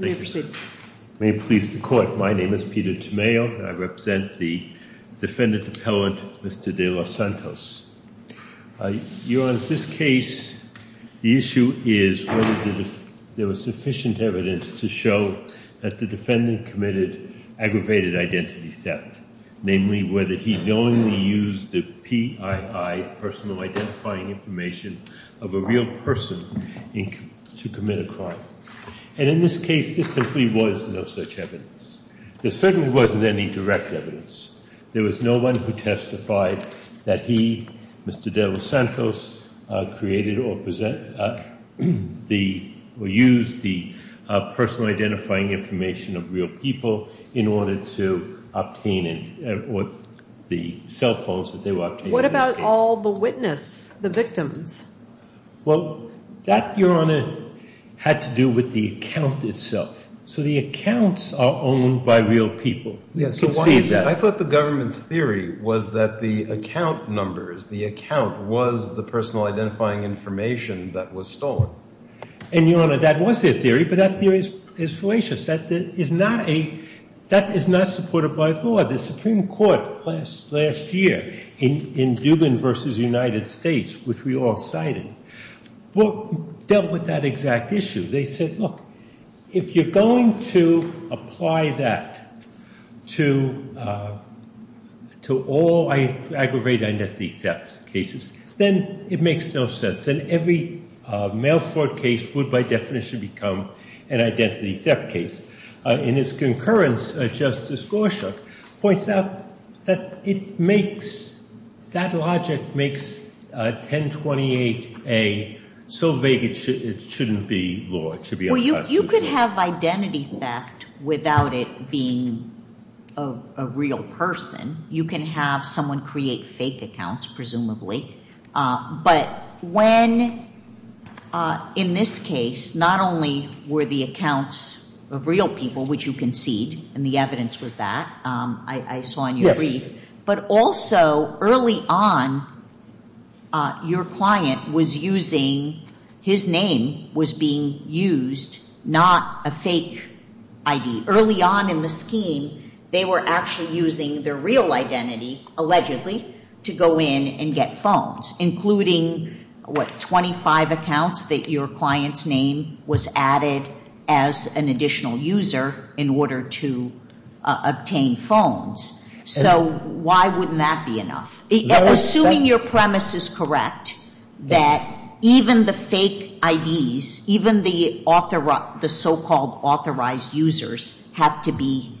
May it please the Court, my name is Peter Tomeo, and I represent the defendant appellant Mr. De Los Santos. Your Honor, in this case, the issue is whether there was sufficient evidence to show that the defendant committed aggravated identity theft. Namely, whether he knowingly used the PII, personal identifying information, of a real person to commit a crime. And in this case, there simply was no such evidence. There certainly wasn't any direct evidence. There was no one who testified that he, Mr. De Los Santos, created or used the personal identifying information of real people in order to obtain the cell phones that they were obtaining in this case. What about all the witness, the victims? Well, that, Your Honor, had to do with the account itself. So the accounts are owned by real people. Yes, so why is that? I thought the government's theory was that the account numbers, the account was the personal identifying information that was stolen. And, Your Honor, that was their theory, but that theory is fallacious. That is not a, that is not supported by law. The Supreme Court last year in Dubin v. United States, which we all cited, dealt with that exact issue. They said, look, if you're going to apply that to all aggravated identity theft cases, then it makes no sense. And every Melfort case would, by definition, become an identity theft case. In its concurrence, Justice Gorsuch points out that it makes, that logic makes 1028A so vague it shouldn't be law. It should be unconstitutional. Well, you could have identity theft without it being a real person. You can have someone create fake accounts, presumably. But when, in this case, not only were the accounts of real people, which you concede, and the evidence was that, I saw in your brief. Yes. But also, early on, your client was using, his name was being used, not a fake ID. Early on in the scheme, they were actually using their real identity, allegedly, to go in and get phones. Including, what, 25 accounts that your client's name was added as an additional user in order to obtain phones. So why wouldn't that be enough? Assuming your premise is correct, that even the fake IDs, even the so-called authorized users, have to be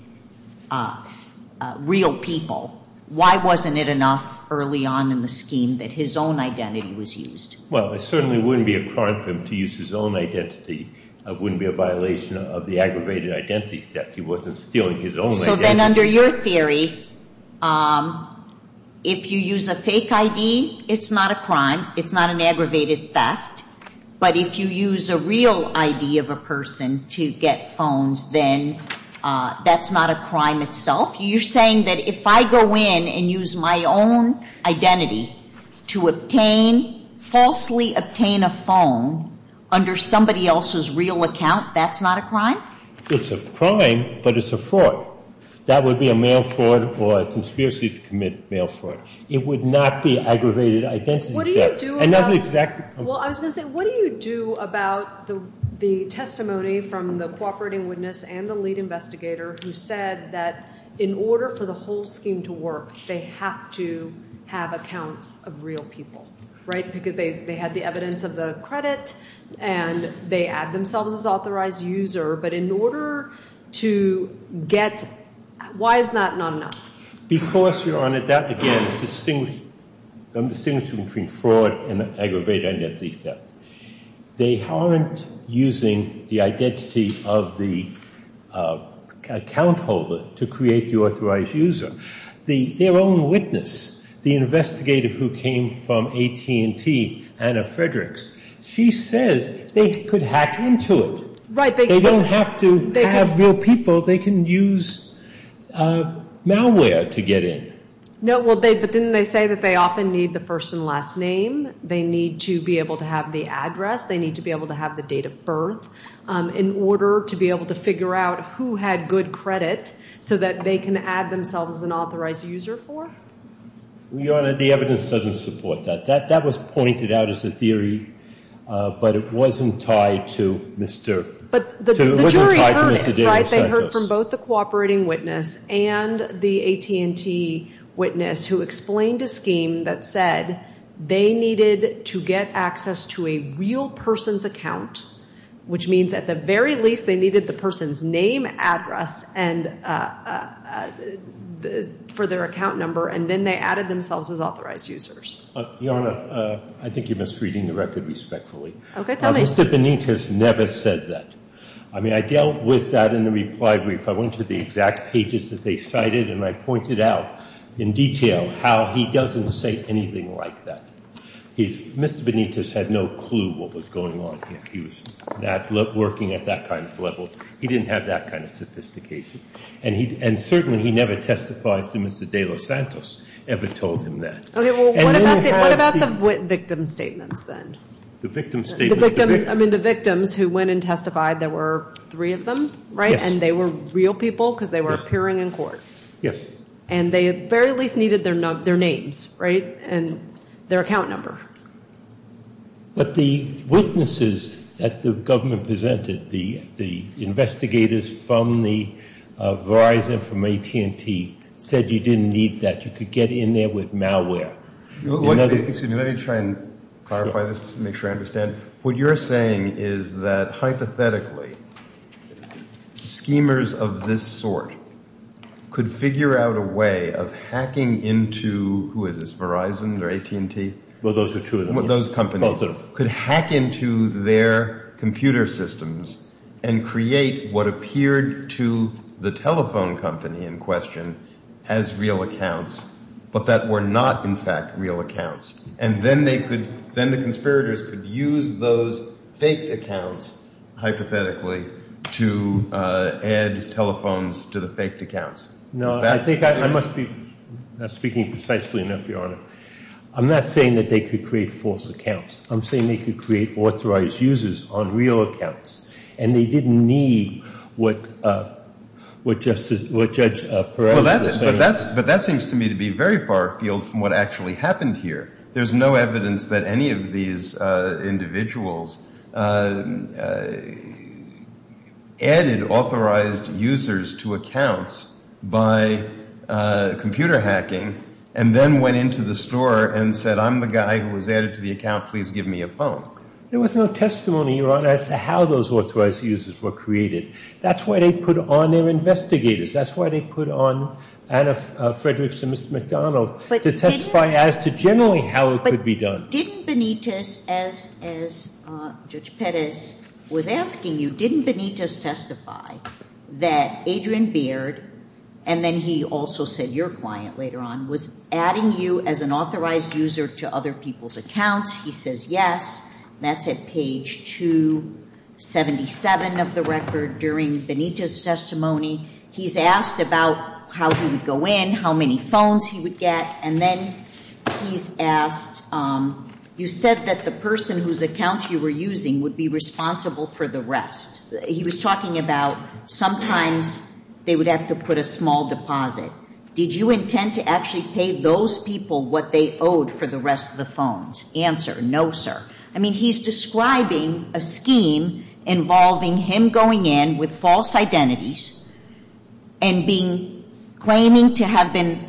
real people, why wasn't it enough early on in the scheme that his own identity was used? Well, it certainly wouldn't be a crime for him to use his own identity. It wouldn't be a violation of the aggravated identity theft. He wasn't stealing his own identity. So then, under your theory, if you use a fake ID, it's not a crime. It's not an aggravated theft. But if you use a real ID of a person to get phones, then that's not a crime itself? You're saying that if I go in and use my own identity to obtain, falsely obtain a phone, under somebody else's real account, that's not a crime? It's a crime, but it's a fraud. That would be a mail fraud or a conspiracy to commit mail fraud. It would not be aggravated identity theft. What do you do about— And that's exactly— Well, I was going to say, what do you do about the testimony from the cooperating witness and the lead investigator who said that in order for the whole scheme to work, they have to have accounts of real people, right? Because they had the evidence of the credit, and they add themselves as authorized user. But in order to get—why is that not enough? Because, Your Honor, that, again, distinguishes between fraud and aggravated identity theft. They aren't using the identity of the account holder to create the authorized user. Their own witness, the investigator who came from AT&T, Anna Fredericks, she says they could hack into it. Right. They don't have to have real people. They can use malware to get in. No, well, didn't they say that they often need the first and last name? They need to be able to have the address. They need to be able to have the date of birth in order to be able to figure out who had good credit so that they can add themselves as an authorized user for? Well, Your Honor, the evidence doesn't support that. That was pointed out as a theory, but it wasn't tied to Mr. Davis. But the jury heard it, right? They heard from both the cooperating witness and the AT&T witness who explained a scheme that said they needed to get access to a real person's account, which means at the very least they needed the person's name, address, and for their account number, and then they added themselves as authorized users. Your Honor, I think you're misreading the record respectfully. Okay, tell me. Mr. Benitez never said that. I mean, I dealt with that in the reply brief. I went to the exact pages that they cited, and I pointed out in detail how he doesn't say anything like that. Mr. Benitez had no clue what was going on. He was not working at that kind of level. He didn't have that kind of sophistication. And certainly he never testifies to Mr. De Los Santos ever told him that. Okay, well, what about the victim statements then? The victim statements? I mean, the victims who went and testified, there were three of them, right? Yes. And they were real people because they were appearing in court. Yes. And they at the very least needed their names, right, and their account number. But the witnesses that the government presented, the investigators from Verizon, from AT&T, said you didn't need that. You could get in there with malware. Excuse me. Let me try and clarify this to make sure I understand. What you're saying is that hypothetically, schemers of this sort could figure out a way of hacking into, who is this, Verizon or AT&T? Well, those are two of them. Those companies. Both of them. Could hack into their computer systems and create what appeared to the telephone company in question as real accounts, but that were not, in fact, real accounts. And then they could, then the conspirators could use those fake accounts, hypothetically, to add telephones to the faked accounts. No, I think I must be speaking precisely enough, Your Honor. I'm not saying that they could create false accounts. I'm saying they could create authorized users on real accounts, and they didn't need what Judge Perez was saying. But that seems to me to be very far afield from what actually happened here. There's no evidence that any of these individuals added authorized users to accounts by computer hacking and then went into the store and said, I'm the guy who was added to the account. Please give me a phone. There was no testimony, Your Honor, as to how those authorized users were created. That's why they put on their investigators. That's why they put on Anna Fredericks and Mr. McDonald, to testify as to generally how it could be done. But didn't Benitez, as Judge Perez was asking you, didn't Benitez testify that Adrian Beard, and then he also said your client later on, was adding you as an authorized user to other people's accounts? He says yes. That's at page 277 of the record during Benitez's testimony. He's asked about how he would go in, how many phones he would get. And then he's asked, you said that the person whose accounts you were using would be responsible for the rest. He was talking about sometimes they would have to put a small deposit. Did you intend to actually pay those people what they owed for the rest of the phones? Answer, no, sir. I mean, he's describing a scheme involving him going in with false identities and claiming to have been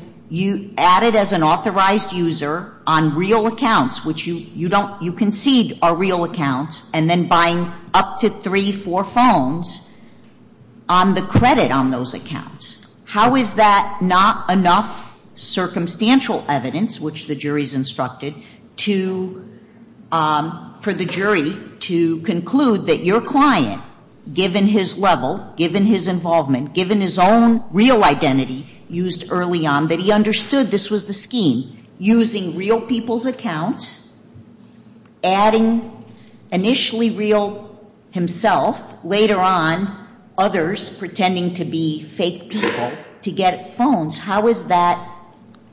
added as an authorized user on real accounts, which you concede are real accounts, and then buying up to three, four phones on the credit on those accounts. How is that not enough circumstantial evidence, which the jury's instructed, for the jury to conclude that your client, given his level, given his involvement, given his own real identity used early on, that he understood this was the scheme, using real people's accounts, adding initially real himself, later on others pretending to be fake people, to get phones, how does that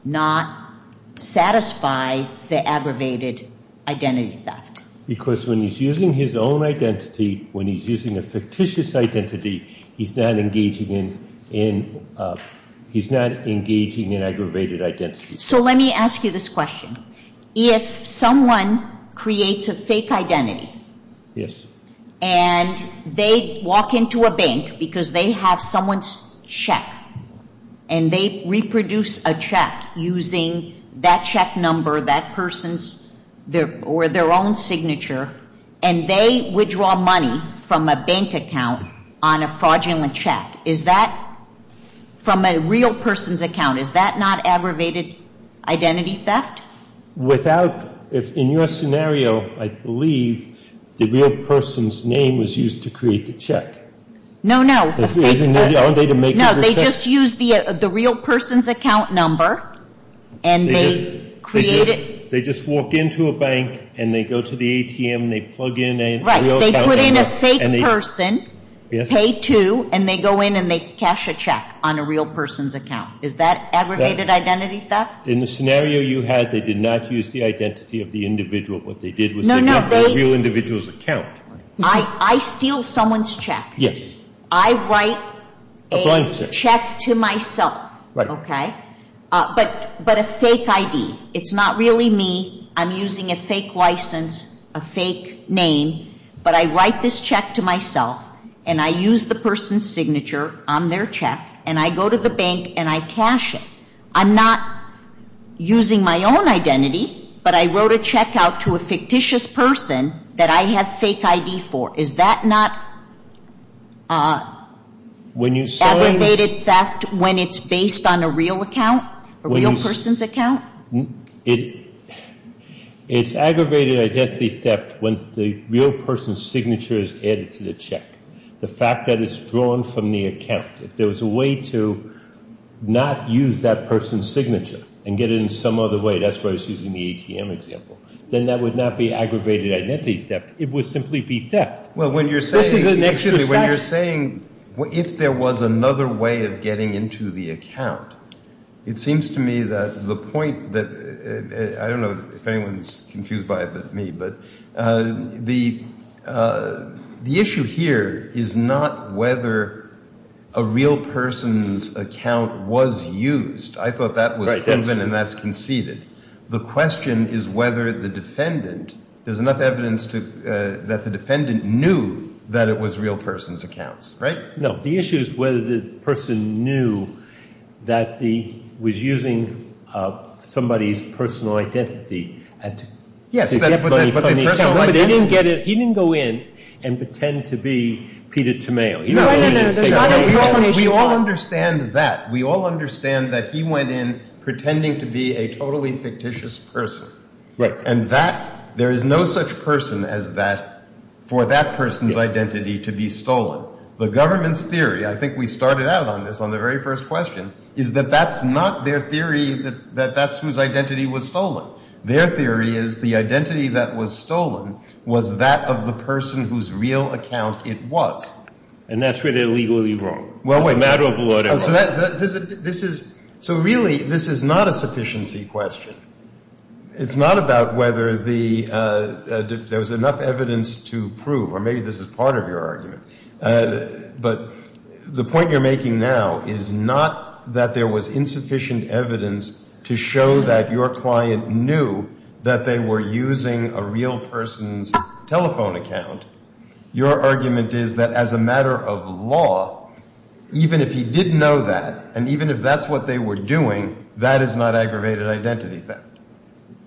not satisfy the aggravated identity theft? Because when he's using his own identity, when he's using a fictitious identity, he's not engaging in aggravated identity. So let me ask you this question. If someone creates a fake identity and they walk into a bank because they have someone's check and they reproduce a check using that check number, that person's, or their own signature, and they withdraw money from a bank account on a fraudulent check, is that, from a real person's account, is that not aggravated identity theft? Without, in your scenario, I believe the real person's name was used to create the check. No, no. Aren't they to make it a check? No. They just use the real person's account number and they create it. They just walk into a bank and they go to the ATM and they plug in a real account number. Right. They put in a fake person, pay two, and they go in and they cash a check on a real person's account. Is that aggravated identity theft? In the scenario you had, they did not use the identity of the individual. What they did was they did the real individual's account. I steal someone's check. Yes. I write a check to myself. Right. Okay? But a fake ID. It's not really me. I'm using a fake license, a fake name, but I write this check to myself and I use the person's signature check and I go to the bank and I cash it. I'm not using my own identity, but I wrote a check out to a fictitious person that I have fake ID for. Is that not aggravated theft when it's based on a real account, a real person's account? It's aggravated identity theft when the real person's signature is added to the check. The fact that it's drawn from the account, if there was a way to not use that person's signature and get it in some other way, that's why I was using the ATM example, then that would not be aggravated identity theft. It would simply be theft. Well, when you're saying, if there was another way of getting into the account, it seems to me that the point that, I don't know if anyone's confused by me, but the issue here is not whether a real person's account was used. I thought that was proven and that's conceded. The question is whether the defendant, there's enough evidence that the defendant knew that it was real person's accounts, right? No, the issue is whether the person knew that he was using somebody's personal identity. Yes, but they didn't get it, he didn't go in and pretend to be Peter Tamayo. No, no, no. We all understand that. We all understand that he went in pretending to be a totally fictitious person. Right. And that, there is no such person as that for that person's identity to be stolen. The government's theory, I think we started out on this on the very first question, is that that's not their theory that that's whose identity was stolen. Their theory is the identity that was stolen was that of the person whose real account it was. And that's where they're legally wrong. Well, wait. It's a matter of law and order. This is, so really this is not a sufficiency question. It's not about whether there was enough evidence to prove, or maybe this is part of your argument, but the point you're making now is not that there was insufficient evidence to show that your client knew that they were using a real person's telephone account. Your argument is that as a matter of law, even if he did know that, and even if that's what they were doing, that is not aggravated identity theft.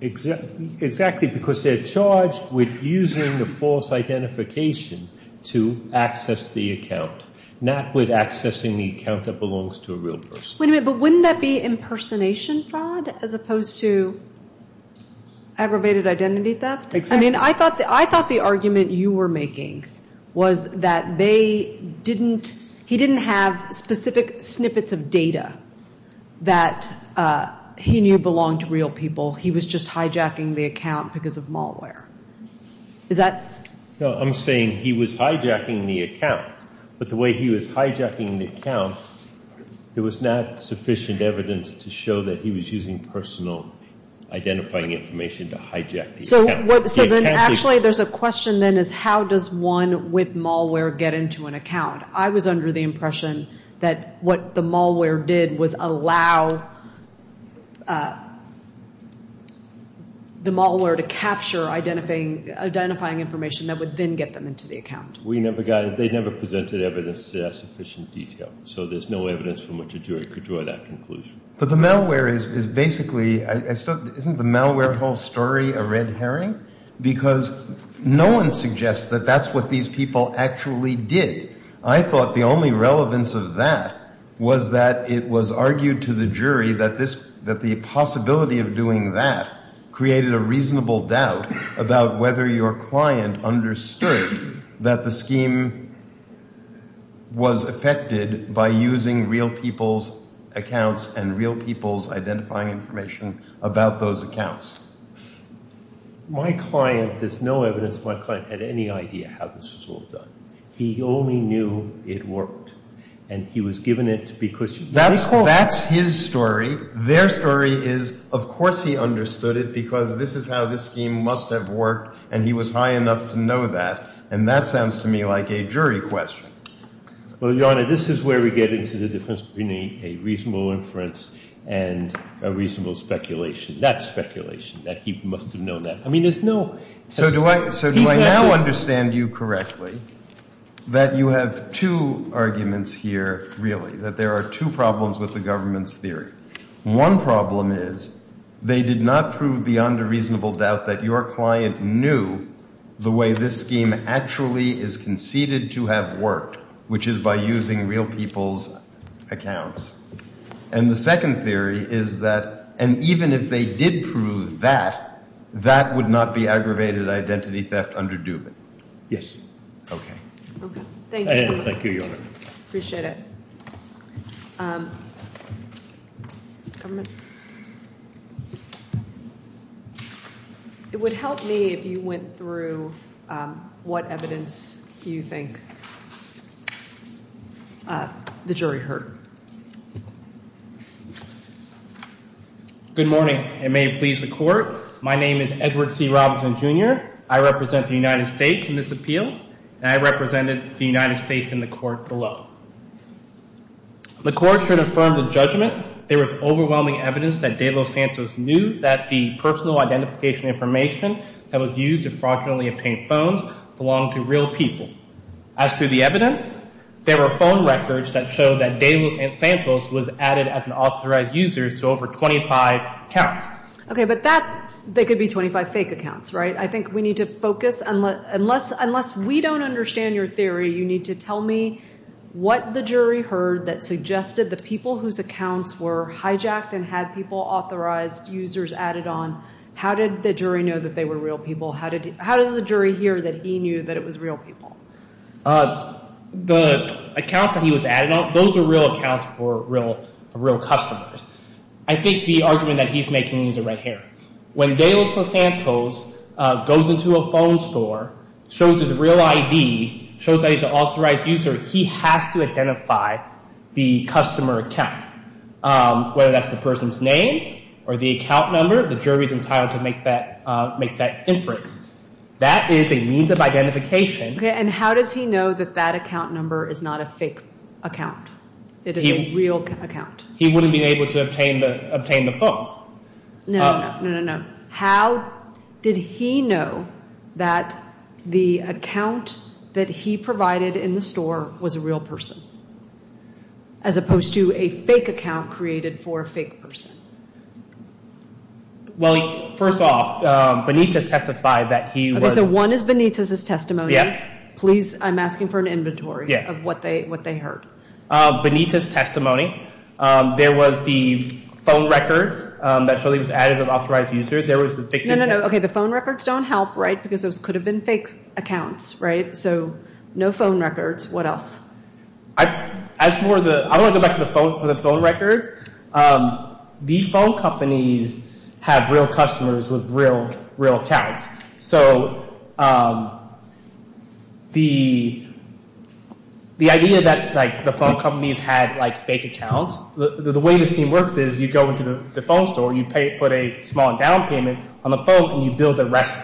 Exactly, because they're charged with using the false identification to access the account, not with accessing the account that belongs to a real person. Wait a minute, but wouldn't that be impersonation fraud as opposed to aggravated identity theft? Exactly. I mean, I thought the argument you were making was that they didn't, he didn't have specific snippets of data that he knew belonged to real people. He was just hijacking the account because of malware. Is that? No, I'm saying he was hijacking the account. But the way he was hijacking the account, there was not sufficient evidence to show that he was using personal identifying information to hijack the account. So then actually there's a question then is how does one with malware get into an account? I was under the impression that what the malware did was allow the malware to capture identifying information that would then get them into the account. We never got, they never presented evidence to that sufficient detail. So there's no evidence from which a jury could draw that conclusion. But the malware is basically, isn't the malware whole story a red herring? Because no one suggests that that's what these people actually did. I thought the only relevance of that was that it was argued to the jury that this, that the possibility of doing that created a reasonable doubt about whether your client understood that the scheme was affected by using real people's accounts and real people's identifying information about those accounts. My client, there's no evidence my client had any idea how this was all done. He only knew it worked. And he was given it because. That's his story. Their story is of course he understood it because this is how this scheme must have worked and he was high enough to know that. And that sounds to me like a jury question. Well, Your Honor, this is where we get into the difference between a reasonable inference and a reasonable speculation. That's speculation. That he must have known that. I mean, there's no. So do I now understand you correctly that you have two arguments here really, that there are two problems with the government's theory. One problem is they did not prove beyond a reasonable doubt that your client knew the way this scheme actually is conceded to have worked, which is by using real people's accounts. And the second theory is that, and even if they did prove that, that would not be aggravated identity theft under Dubin. Yes. Okay. Thank you, Your Honor. Appreciate it. Government? It would help me if you went through what evidence you think the jury heard. Good morning and may it please the court. My name is Edward C. Robinson, Jr. I represent the United States in this appeal and I represented the United States in the court below. The court should affirm the judgment there was overwhelming evidence that De Los Santos knew that the personal identification information that was used to fraudulently obtain phones belonged to real people. As to the evidence, there were phone records that show that De Los Santos was added as an authorized user to over 25 accounts. Okay, but that, they could be 25 fake accounts, right? I think we need to focus. Unless we don't understand your theory, you need to tell me what the jury heard that suggested the people whose accounts were hijacked and had people authorized users added on. How did the jury know that they were real people? How does the jury hear that he knew that it was real people? The accounts that he was adding on, those are real accounts for real customers. I think the argument that he's making is a red herring. When De Los Santos goes into a phone store, shows his real ID, shows that he's an authorized user, he has to identify the customer account. Whether that's the person's name or the account number, the jury's entitled to make that inference. That is a means of identification. Okay, and how does he know that that account number is not a fake account? It is a real account. He wouldn't have been able to obtain the phones. No, no, no, no. How did he know that the account that he provided in the store was a real person, as opposed to a fake account created for a fake person? Well, first off, Benitez testified that he was... Okay, so one is Benitez's testimony. Yes. Please, I'm asking for an inventory of what they heard. Benitez's testimony. There was the phone records that showed he was added as an authorized user. No, no, no. Okay, the phone records don't help, right? Because those could have been fake accounts, right? So, no phone records. What else? I don't want to go back to the phone records. These phone companies have real customers with real accounts. So, the idea that the phone companies had fake accounts, the way the scheme works is you go into the phone store, you put a small endowment payment on the phone, and you bill the rest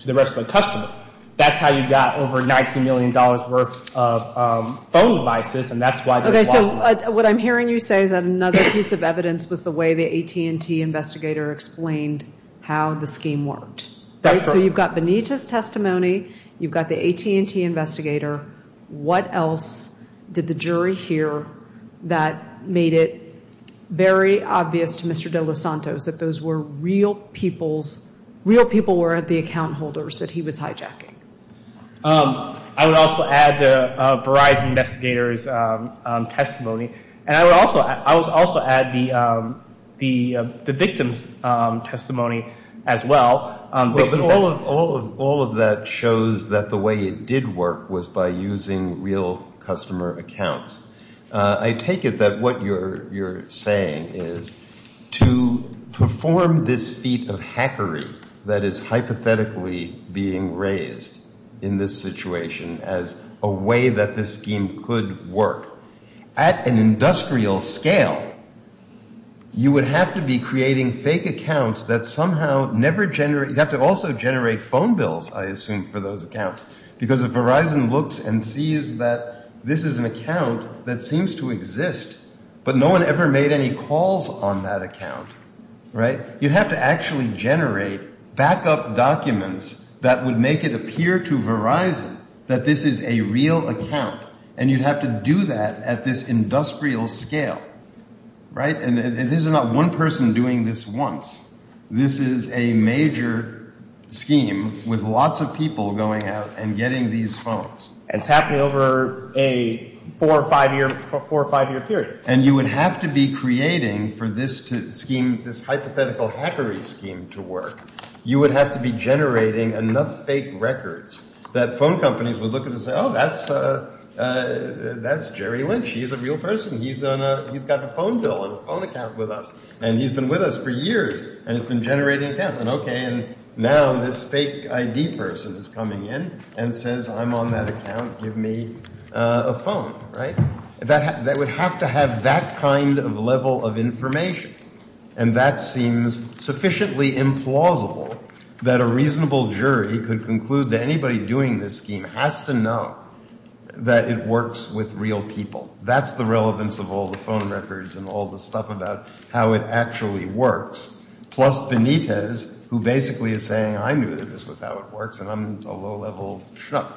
to the rest of the customer. That's how you got over $19 million worth of phone devices, and that's why... Okay, so what I'm hearing you say is that another piece of evidence was the way the AT&T investigator explained how the scheme worked. That's correct. So, you've got Benitez's testimony, you've got the AT&T investigator. What else did the jury hear that made it very obvious to Mr. De Los Santos that those were real people's, real people were the account holders that he was hijacking? I would also add the Verizon investigator's testimony, and I would also add the victim's testimony as well. All of that shows that the way it did work was by using real customer accounts. I take it that what you're saying is to perform this feat of hackery that is hypothetically being raised in this situation as a way that this scheme could work at an industrial scale, you would have to be creating fake accounts that somehow never generate... You'd have to also generate phone bills, I assume, for those accounts, because if Verizon looks and sees that this is an account that seems to exist, but no one ever made any calls on that account, right? You'd have to actually generate backup documents that would make it appear to Verizon that this is a real account, and you'd have to do that at this industrial scale, right? And this is not one person doing this once. This is a major scheme with lots of people going out and getting these phones. And it's happening over a four- or five-year period. And you would have to be creating for this hypothetical hackery scheme to work. You would have to be generating enough fake records that phone companies would look at it and say, oh, that's Jerry Lynch. He's a real person. He's got a phone bill and a phone account with us, and he's been with us for years, and it's been generating accounts. And, okay, now this fake ID person is coming in and says, I'm on that account. Give me a phone, right? They would have to have that kind of level of information. And that seems sufficiently implausible that a reasonable jury could conclude that anybody doing this scheme has to know that it works with real people. That's the relevance of all the phone records and all the stuff about how it actually works, plus Benitez, who basically is saying, I knew that this was how it works, and I'm a low-level schnook.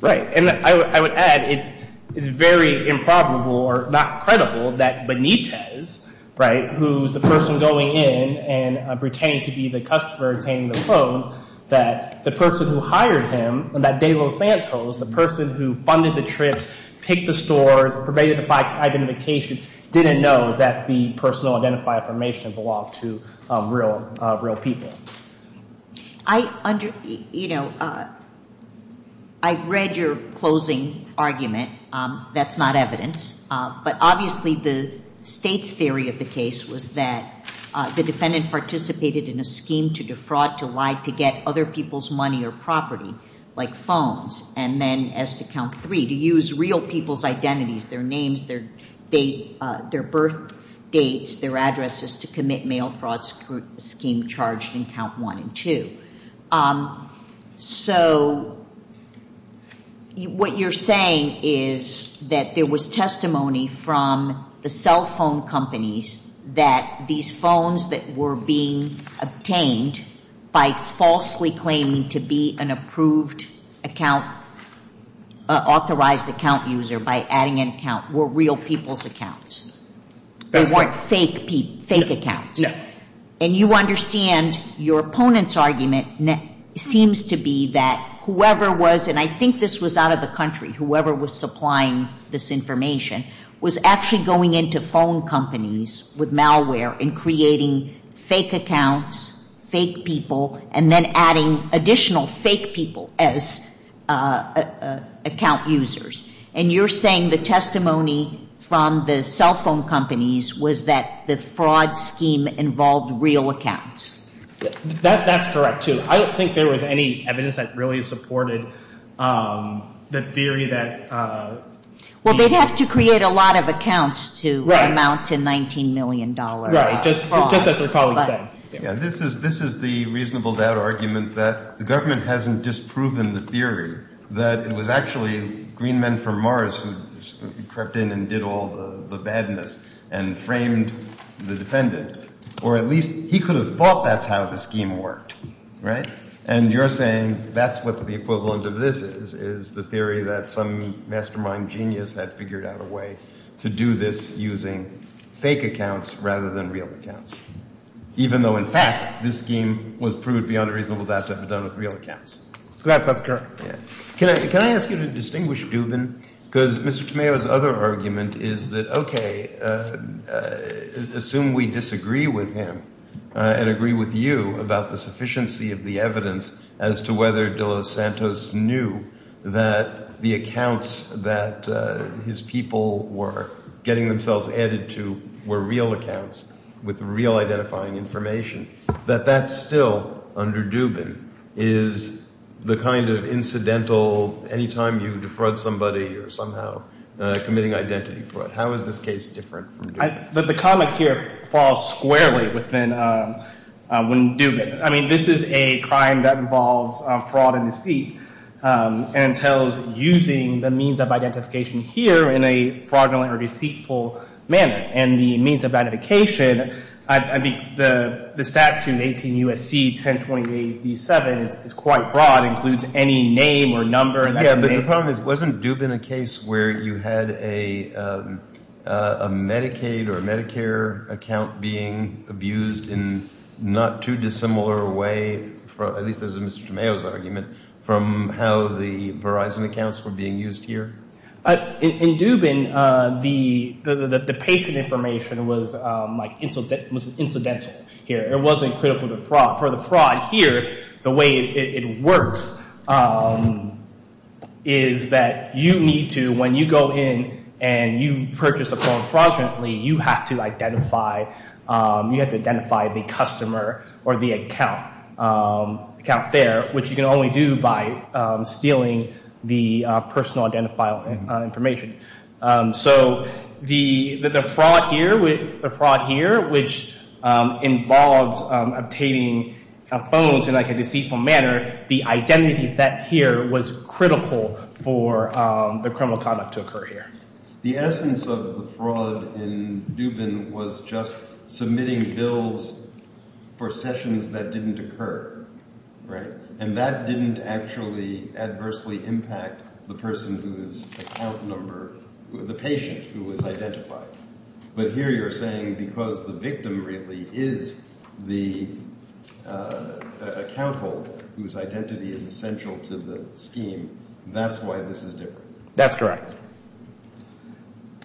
Right, and I would add it's very improbable or not credible that Benitez, right, who's the person going in and pretending to be the customer obtaining the phones, that the person who hired him, that De Los Santos, the person who funded the trips, picked the stores, pervaded the identification, didn't know that the personal identifier information belonged to real people. I read your closing argument. That's not evidence. But obviously the state's theory of the case was that the defendant participated in a scheme to defraud, to lie, to get other people's money or property, like phones, and then as to count three, to use real people's identities, their names, their birth dates, their addresses, to commit mail fraud scheme charged in count one and two. So what you're saying is that there was testimony from the cell phone companies that these phones that were being obtained by falsely claiming to be an approved account, authorized account user by adding an account, were real people's accounts. They weren't fake accounts. And you understand your opponent's argument seems to be that whoever was, and I think this was out of the country, whoever was supplying this information, was actually going into phone companies with malware and creating fake accounts, fake people, and then adding additional fake people as account users. And you're saying the testimony from the cell phone companies was that the fraud scheme involved real accounts. That's correct, too. I don't think there was any evidence that really supported the theory that... Well, they'd have to create a lot of accounts to amount to $19 million fraud. Right, just as our colleague said. This is the reasonable doubt argument that the government hasn't disproven the theory that it was actually green men from Mars who crept in and did all the badness and framed the defendant. Or at least he could have thought that's how the scheme worked, right? And you're saying that's what the equivalent of this is, is the theory that some mastermind genius had figured out a way to do this using fake accounts rather than real accounts, even though, in fact, this scheme was proved beyond a reasonable doubt to have been done with real accounts. Correct, that's correct. Can I ask you to distinguish Dubin? Because Mr. Tomeo's other argument is that, okay, assume we disagree with him and agree with you about the sufficiency of the evidence as to whether De Los Santos knew that the accounts that his people were getting themselves added to were real accounts with real identifying information, that that still, under Dubin, is the kind of incidental anytime you defraud somebody or somehow committing identity fraud. How is this case different from Dubin? The comic here falls squarely within Dubin. I mean, this is a crime that involves fraud and deceit and entails using the means of identification here in a fraudulent or deceitful manner. And the means of identification, I think the statute in 18 U.S.C. 1028-D7 is quite broad. It includes any name or number. Yeah, but the problem is wasn't Dubin a case where you had a Medicaid or a Medicare account being abused in not too dissimilar way, at least as Mr. Tomeo's argument, from how the Verizon accounts were being used here? In Dubin, the patient information was incidental here. It wasn't critical to fraud. For the fraud here, the way it works is that you need to, when you go in and you purchase a phone fraudulently, you have to identify the customer or the account there, which you can only do by stealing the personal identifiable information. So the fraud here, which involves obtaining phones in like a deceitful manner, the identity here was critical for the criminal conduct to occur here. The essence of the fraud in Dubin was just submitting bills for sessions that didn't occur. Right? And that didn't actually adversely impact the person whose account number, the patient who was identified. But here you're saying because the victim really is the account holder whose identity is essential to the scheme, that's why this is different. That's correct.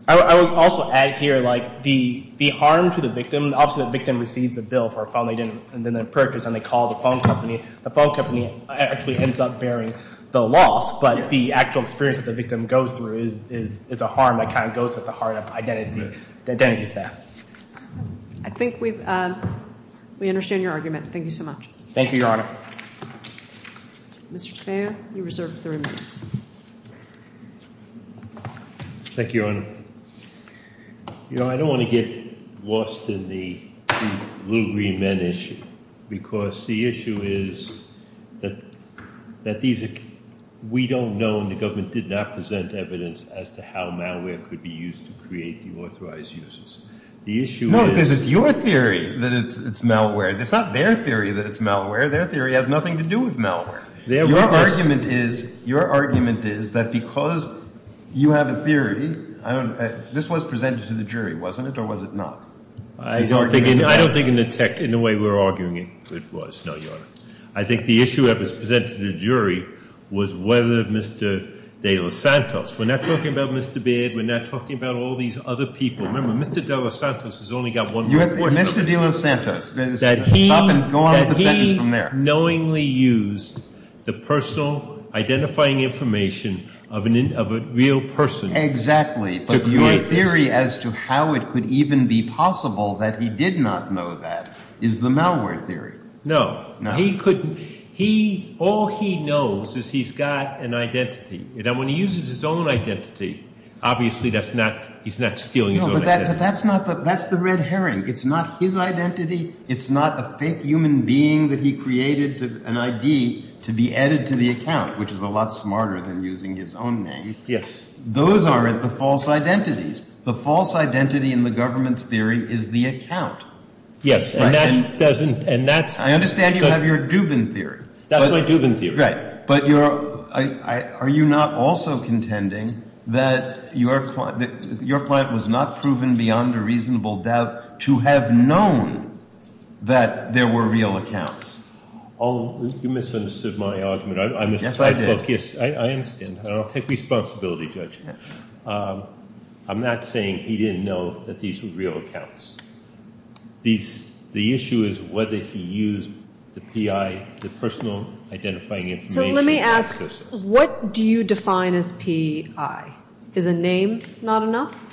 I would also add here like the harm to the victim, obviously the victim receives a bill for a phone they didn't purchase and they call the phone company. The phone company actually ends up bearing the loss. But the actual experience that the victim goes through is a harm that kind of goes to the heart of identity theft. I think we understand your argument. Thank you so much. Thank you, Your Honor. Mr. Speier, you're reserved three minutes. Thank you, Your Honor. I don't want to get lost in the little green men issue because the issue is that we don't know and the government did not present evidence as to how malware could be used to create deauthorized users. No, because it's your theory that it's malware. It's not their theory that it's malware. Their theory has nothing to do with malware. Your argument is that because you have a theory, this was presented to the jury, wasn't it, or was it not? I don't think in the way we're arguing it was, no, Your Honor. I think the issue that was presented to the jury was whether Mr. de Losantos, we're not talking about Mr. Baird, we're not talking about all these other people. Remember, Mr. de Losantos has only got one more thing to say. Mr. de Losantos, stop and go on with the sentence from there. He has not knowingly used the personal identifying information of a real person to create this. Exactly, but your theory as to how it could even be possible that he did not know that is the malware theory. No. No. All he knows is he's got an identity, and when he uses his own identity, obviously he's not stealing his own identity. No, but that's the red herring. It's not his identity. It's not a fake human being that he created, an ID, to be added to the account, which is a lot smarter than using his own name. Yes. Those aren't the false identities. The false identity in the government's theory is the account. Yes, and that doesn't – and that's – I understand you have your Dubin theory. That's my Dubin theory. But you're – are you not also contending that your client was not proven beyond a reasonable doubt to have known that there were real accounts? Oh, you misunderstood my argument. Yes, I did. Yes, I understand, and I'll take responsibility, Judge. I'm not saying he didn't know that these were real accounts. The issue is whether he used the PI, the personal identifying information. So let me ask, what do you define as PI? Is a name not enough?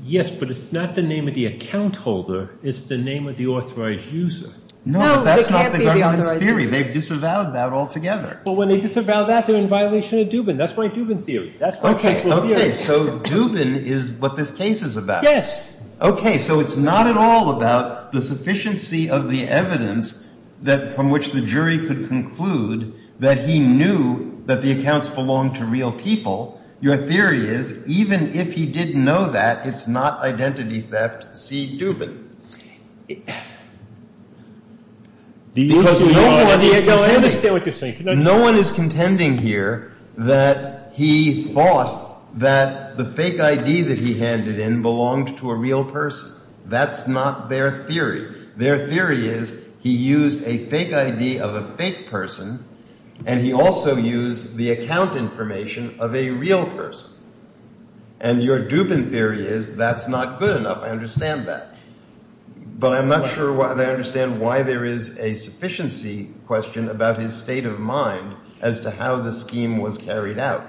Yes, but it's not the name of the account holder. It's the name of the authorized user. No, but that's not the government's theory. They've disavowed that altogether. Well, when they disavow that, they're in violation of Dubin. That's my Dubin theory. That's my principle theory. Okay, so Dubin is what this case is about. Yes. Okay, so it's not at all about the sufficiency of the evidence that – from which the jury could conclude that he knew that the accounts belonged to real people. Your theory is even if he didn't know that, it's not identity theft C. Dubin. No, I understand what you're saying. That the fake ID that he handed in belonged to a real person. That's not their theory. Their theory is he used a fake ID of a fake person, and he also used the account information of a real person. And your Dubin theory is that's not good enough. I understand that. But I'm not sure that I understand why there is a sufficiency question about his state of mind as to how the scheme was carried out.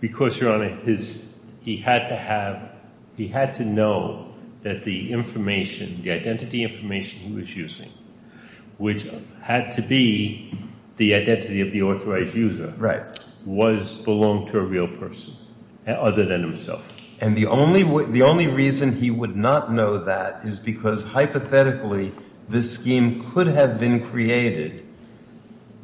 Because, Your Honor, he had to have – he had to know that the information, the identity information he was using, which had to be the identity of the authorized user, was – belonged to a real person other than himself. And the only reason he would not know that is because, hypothetically, this scheme could have been created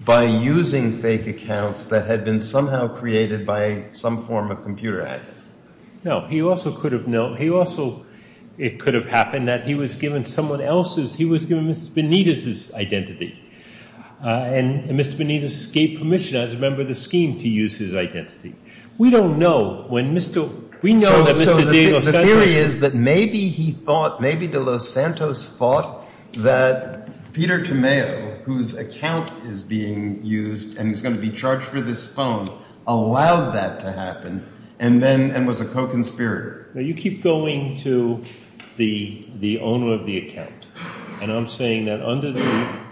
by using fake accounts that had been somehow created by some form of computer ad. No, he also could have known – he also – it could have happened that he was given someone else's – he was given Mr. Benitez's identity. And Mr. Benitez gave permission as a member of the scheme to use his identity. We don't know when Mr. – we know that Mr. De Los Santos – So the theory is that maybe he thought – maybe De Los Santos thought that Peter Tomeo, whose account is being used and is going to be charged for this phone, allowed that to happen and then – and was a co-conspirator. No, you keep going to the owner of the account, and I'm saying that under the –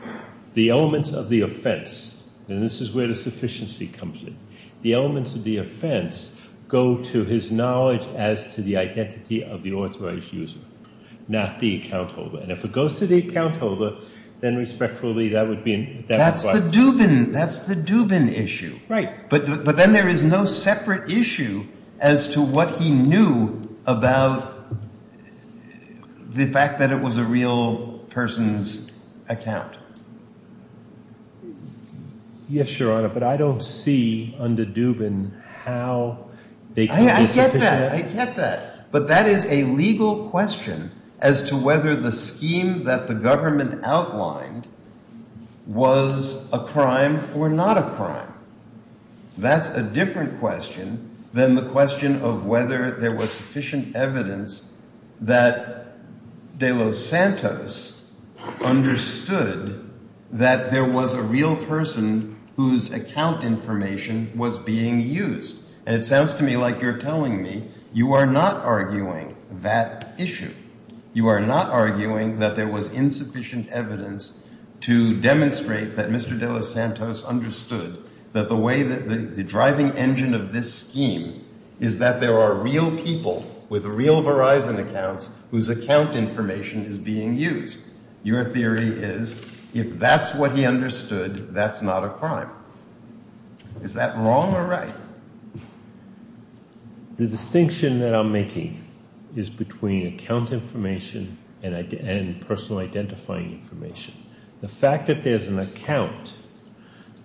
the elements of the offense – and this is where the sufficiency comes in – the elements of the offense go to his knowledge as to the identity of the authorized user, not the account holder. And if it goes to the account holder, then respectfully that would be – That's the Dubin – that's the Dubin issue. Right. But then there is no separate issue as to what he knew about the fact that it was a real person's account. Yes, Your Honor, but I don't see under Dubin how they could be – I get that. I get that. But that is a legal question as to whether the scheme that the government outlined was a crime or not a crime. That's a different question than the question of whether there was sufficient evidence that De Los Santos understood that there was a real person whose account information was being used. And it sounds to me like you're telling me you are not arguing that issue. You are not arguing that there was insufficient evidence to demonstrate that Mr. De Los Santos understood that the way that – the driving engine of this scheme is that there are real people with real Verizon accounts whose account information is being used. Your theory is if that's what he understood, that's not a crime. Is that wrong or right? The distinction that I'm making is between account information and personal identifying information. The fact that there's an account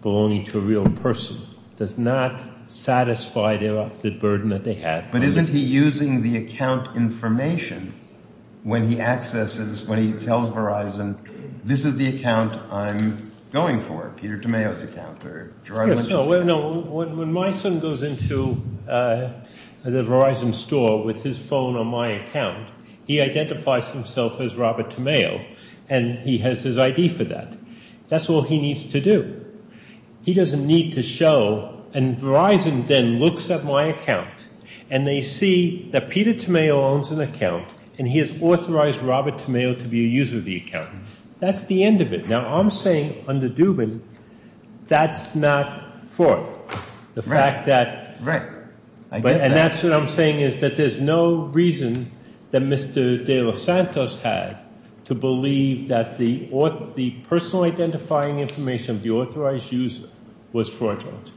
belonging to a real person does not satisfy the burden that they had. But isn't he using the account information when he accesses – when he tells Verizon, this is the account I'm going for, Peter Tomeo's account? No, when my son goes into the Verizon store with his phone on my account, he identifies himself as Robert Tomeo and he has his ID for that. That's all he needs to do. He doesn't need to show – and Verizon then looks at my account and they see that Peter Tomeo owns an account and he has authorized Robert Tomeo to be a user of the account. That's the end of it. Now, I'm saying under Dubin, that's not fraud. The fact that – and that's what I'm saying is that there's no reason that Mr. De Los Santos had to believe that the personal identifying information of the authorized user was fraudulent.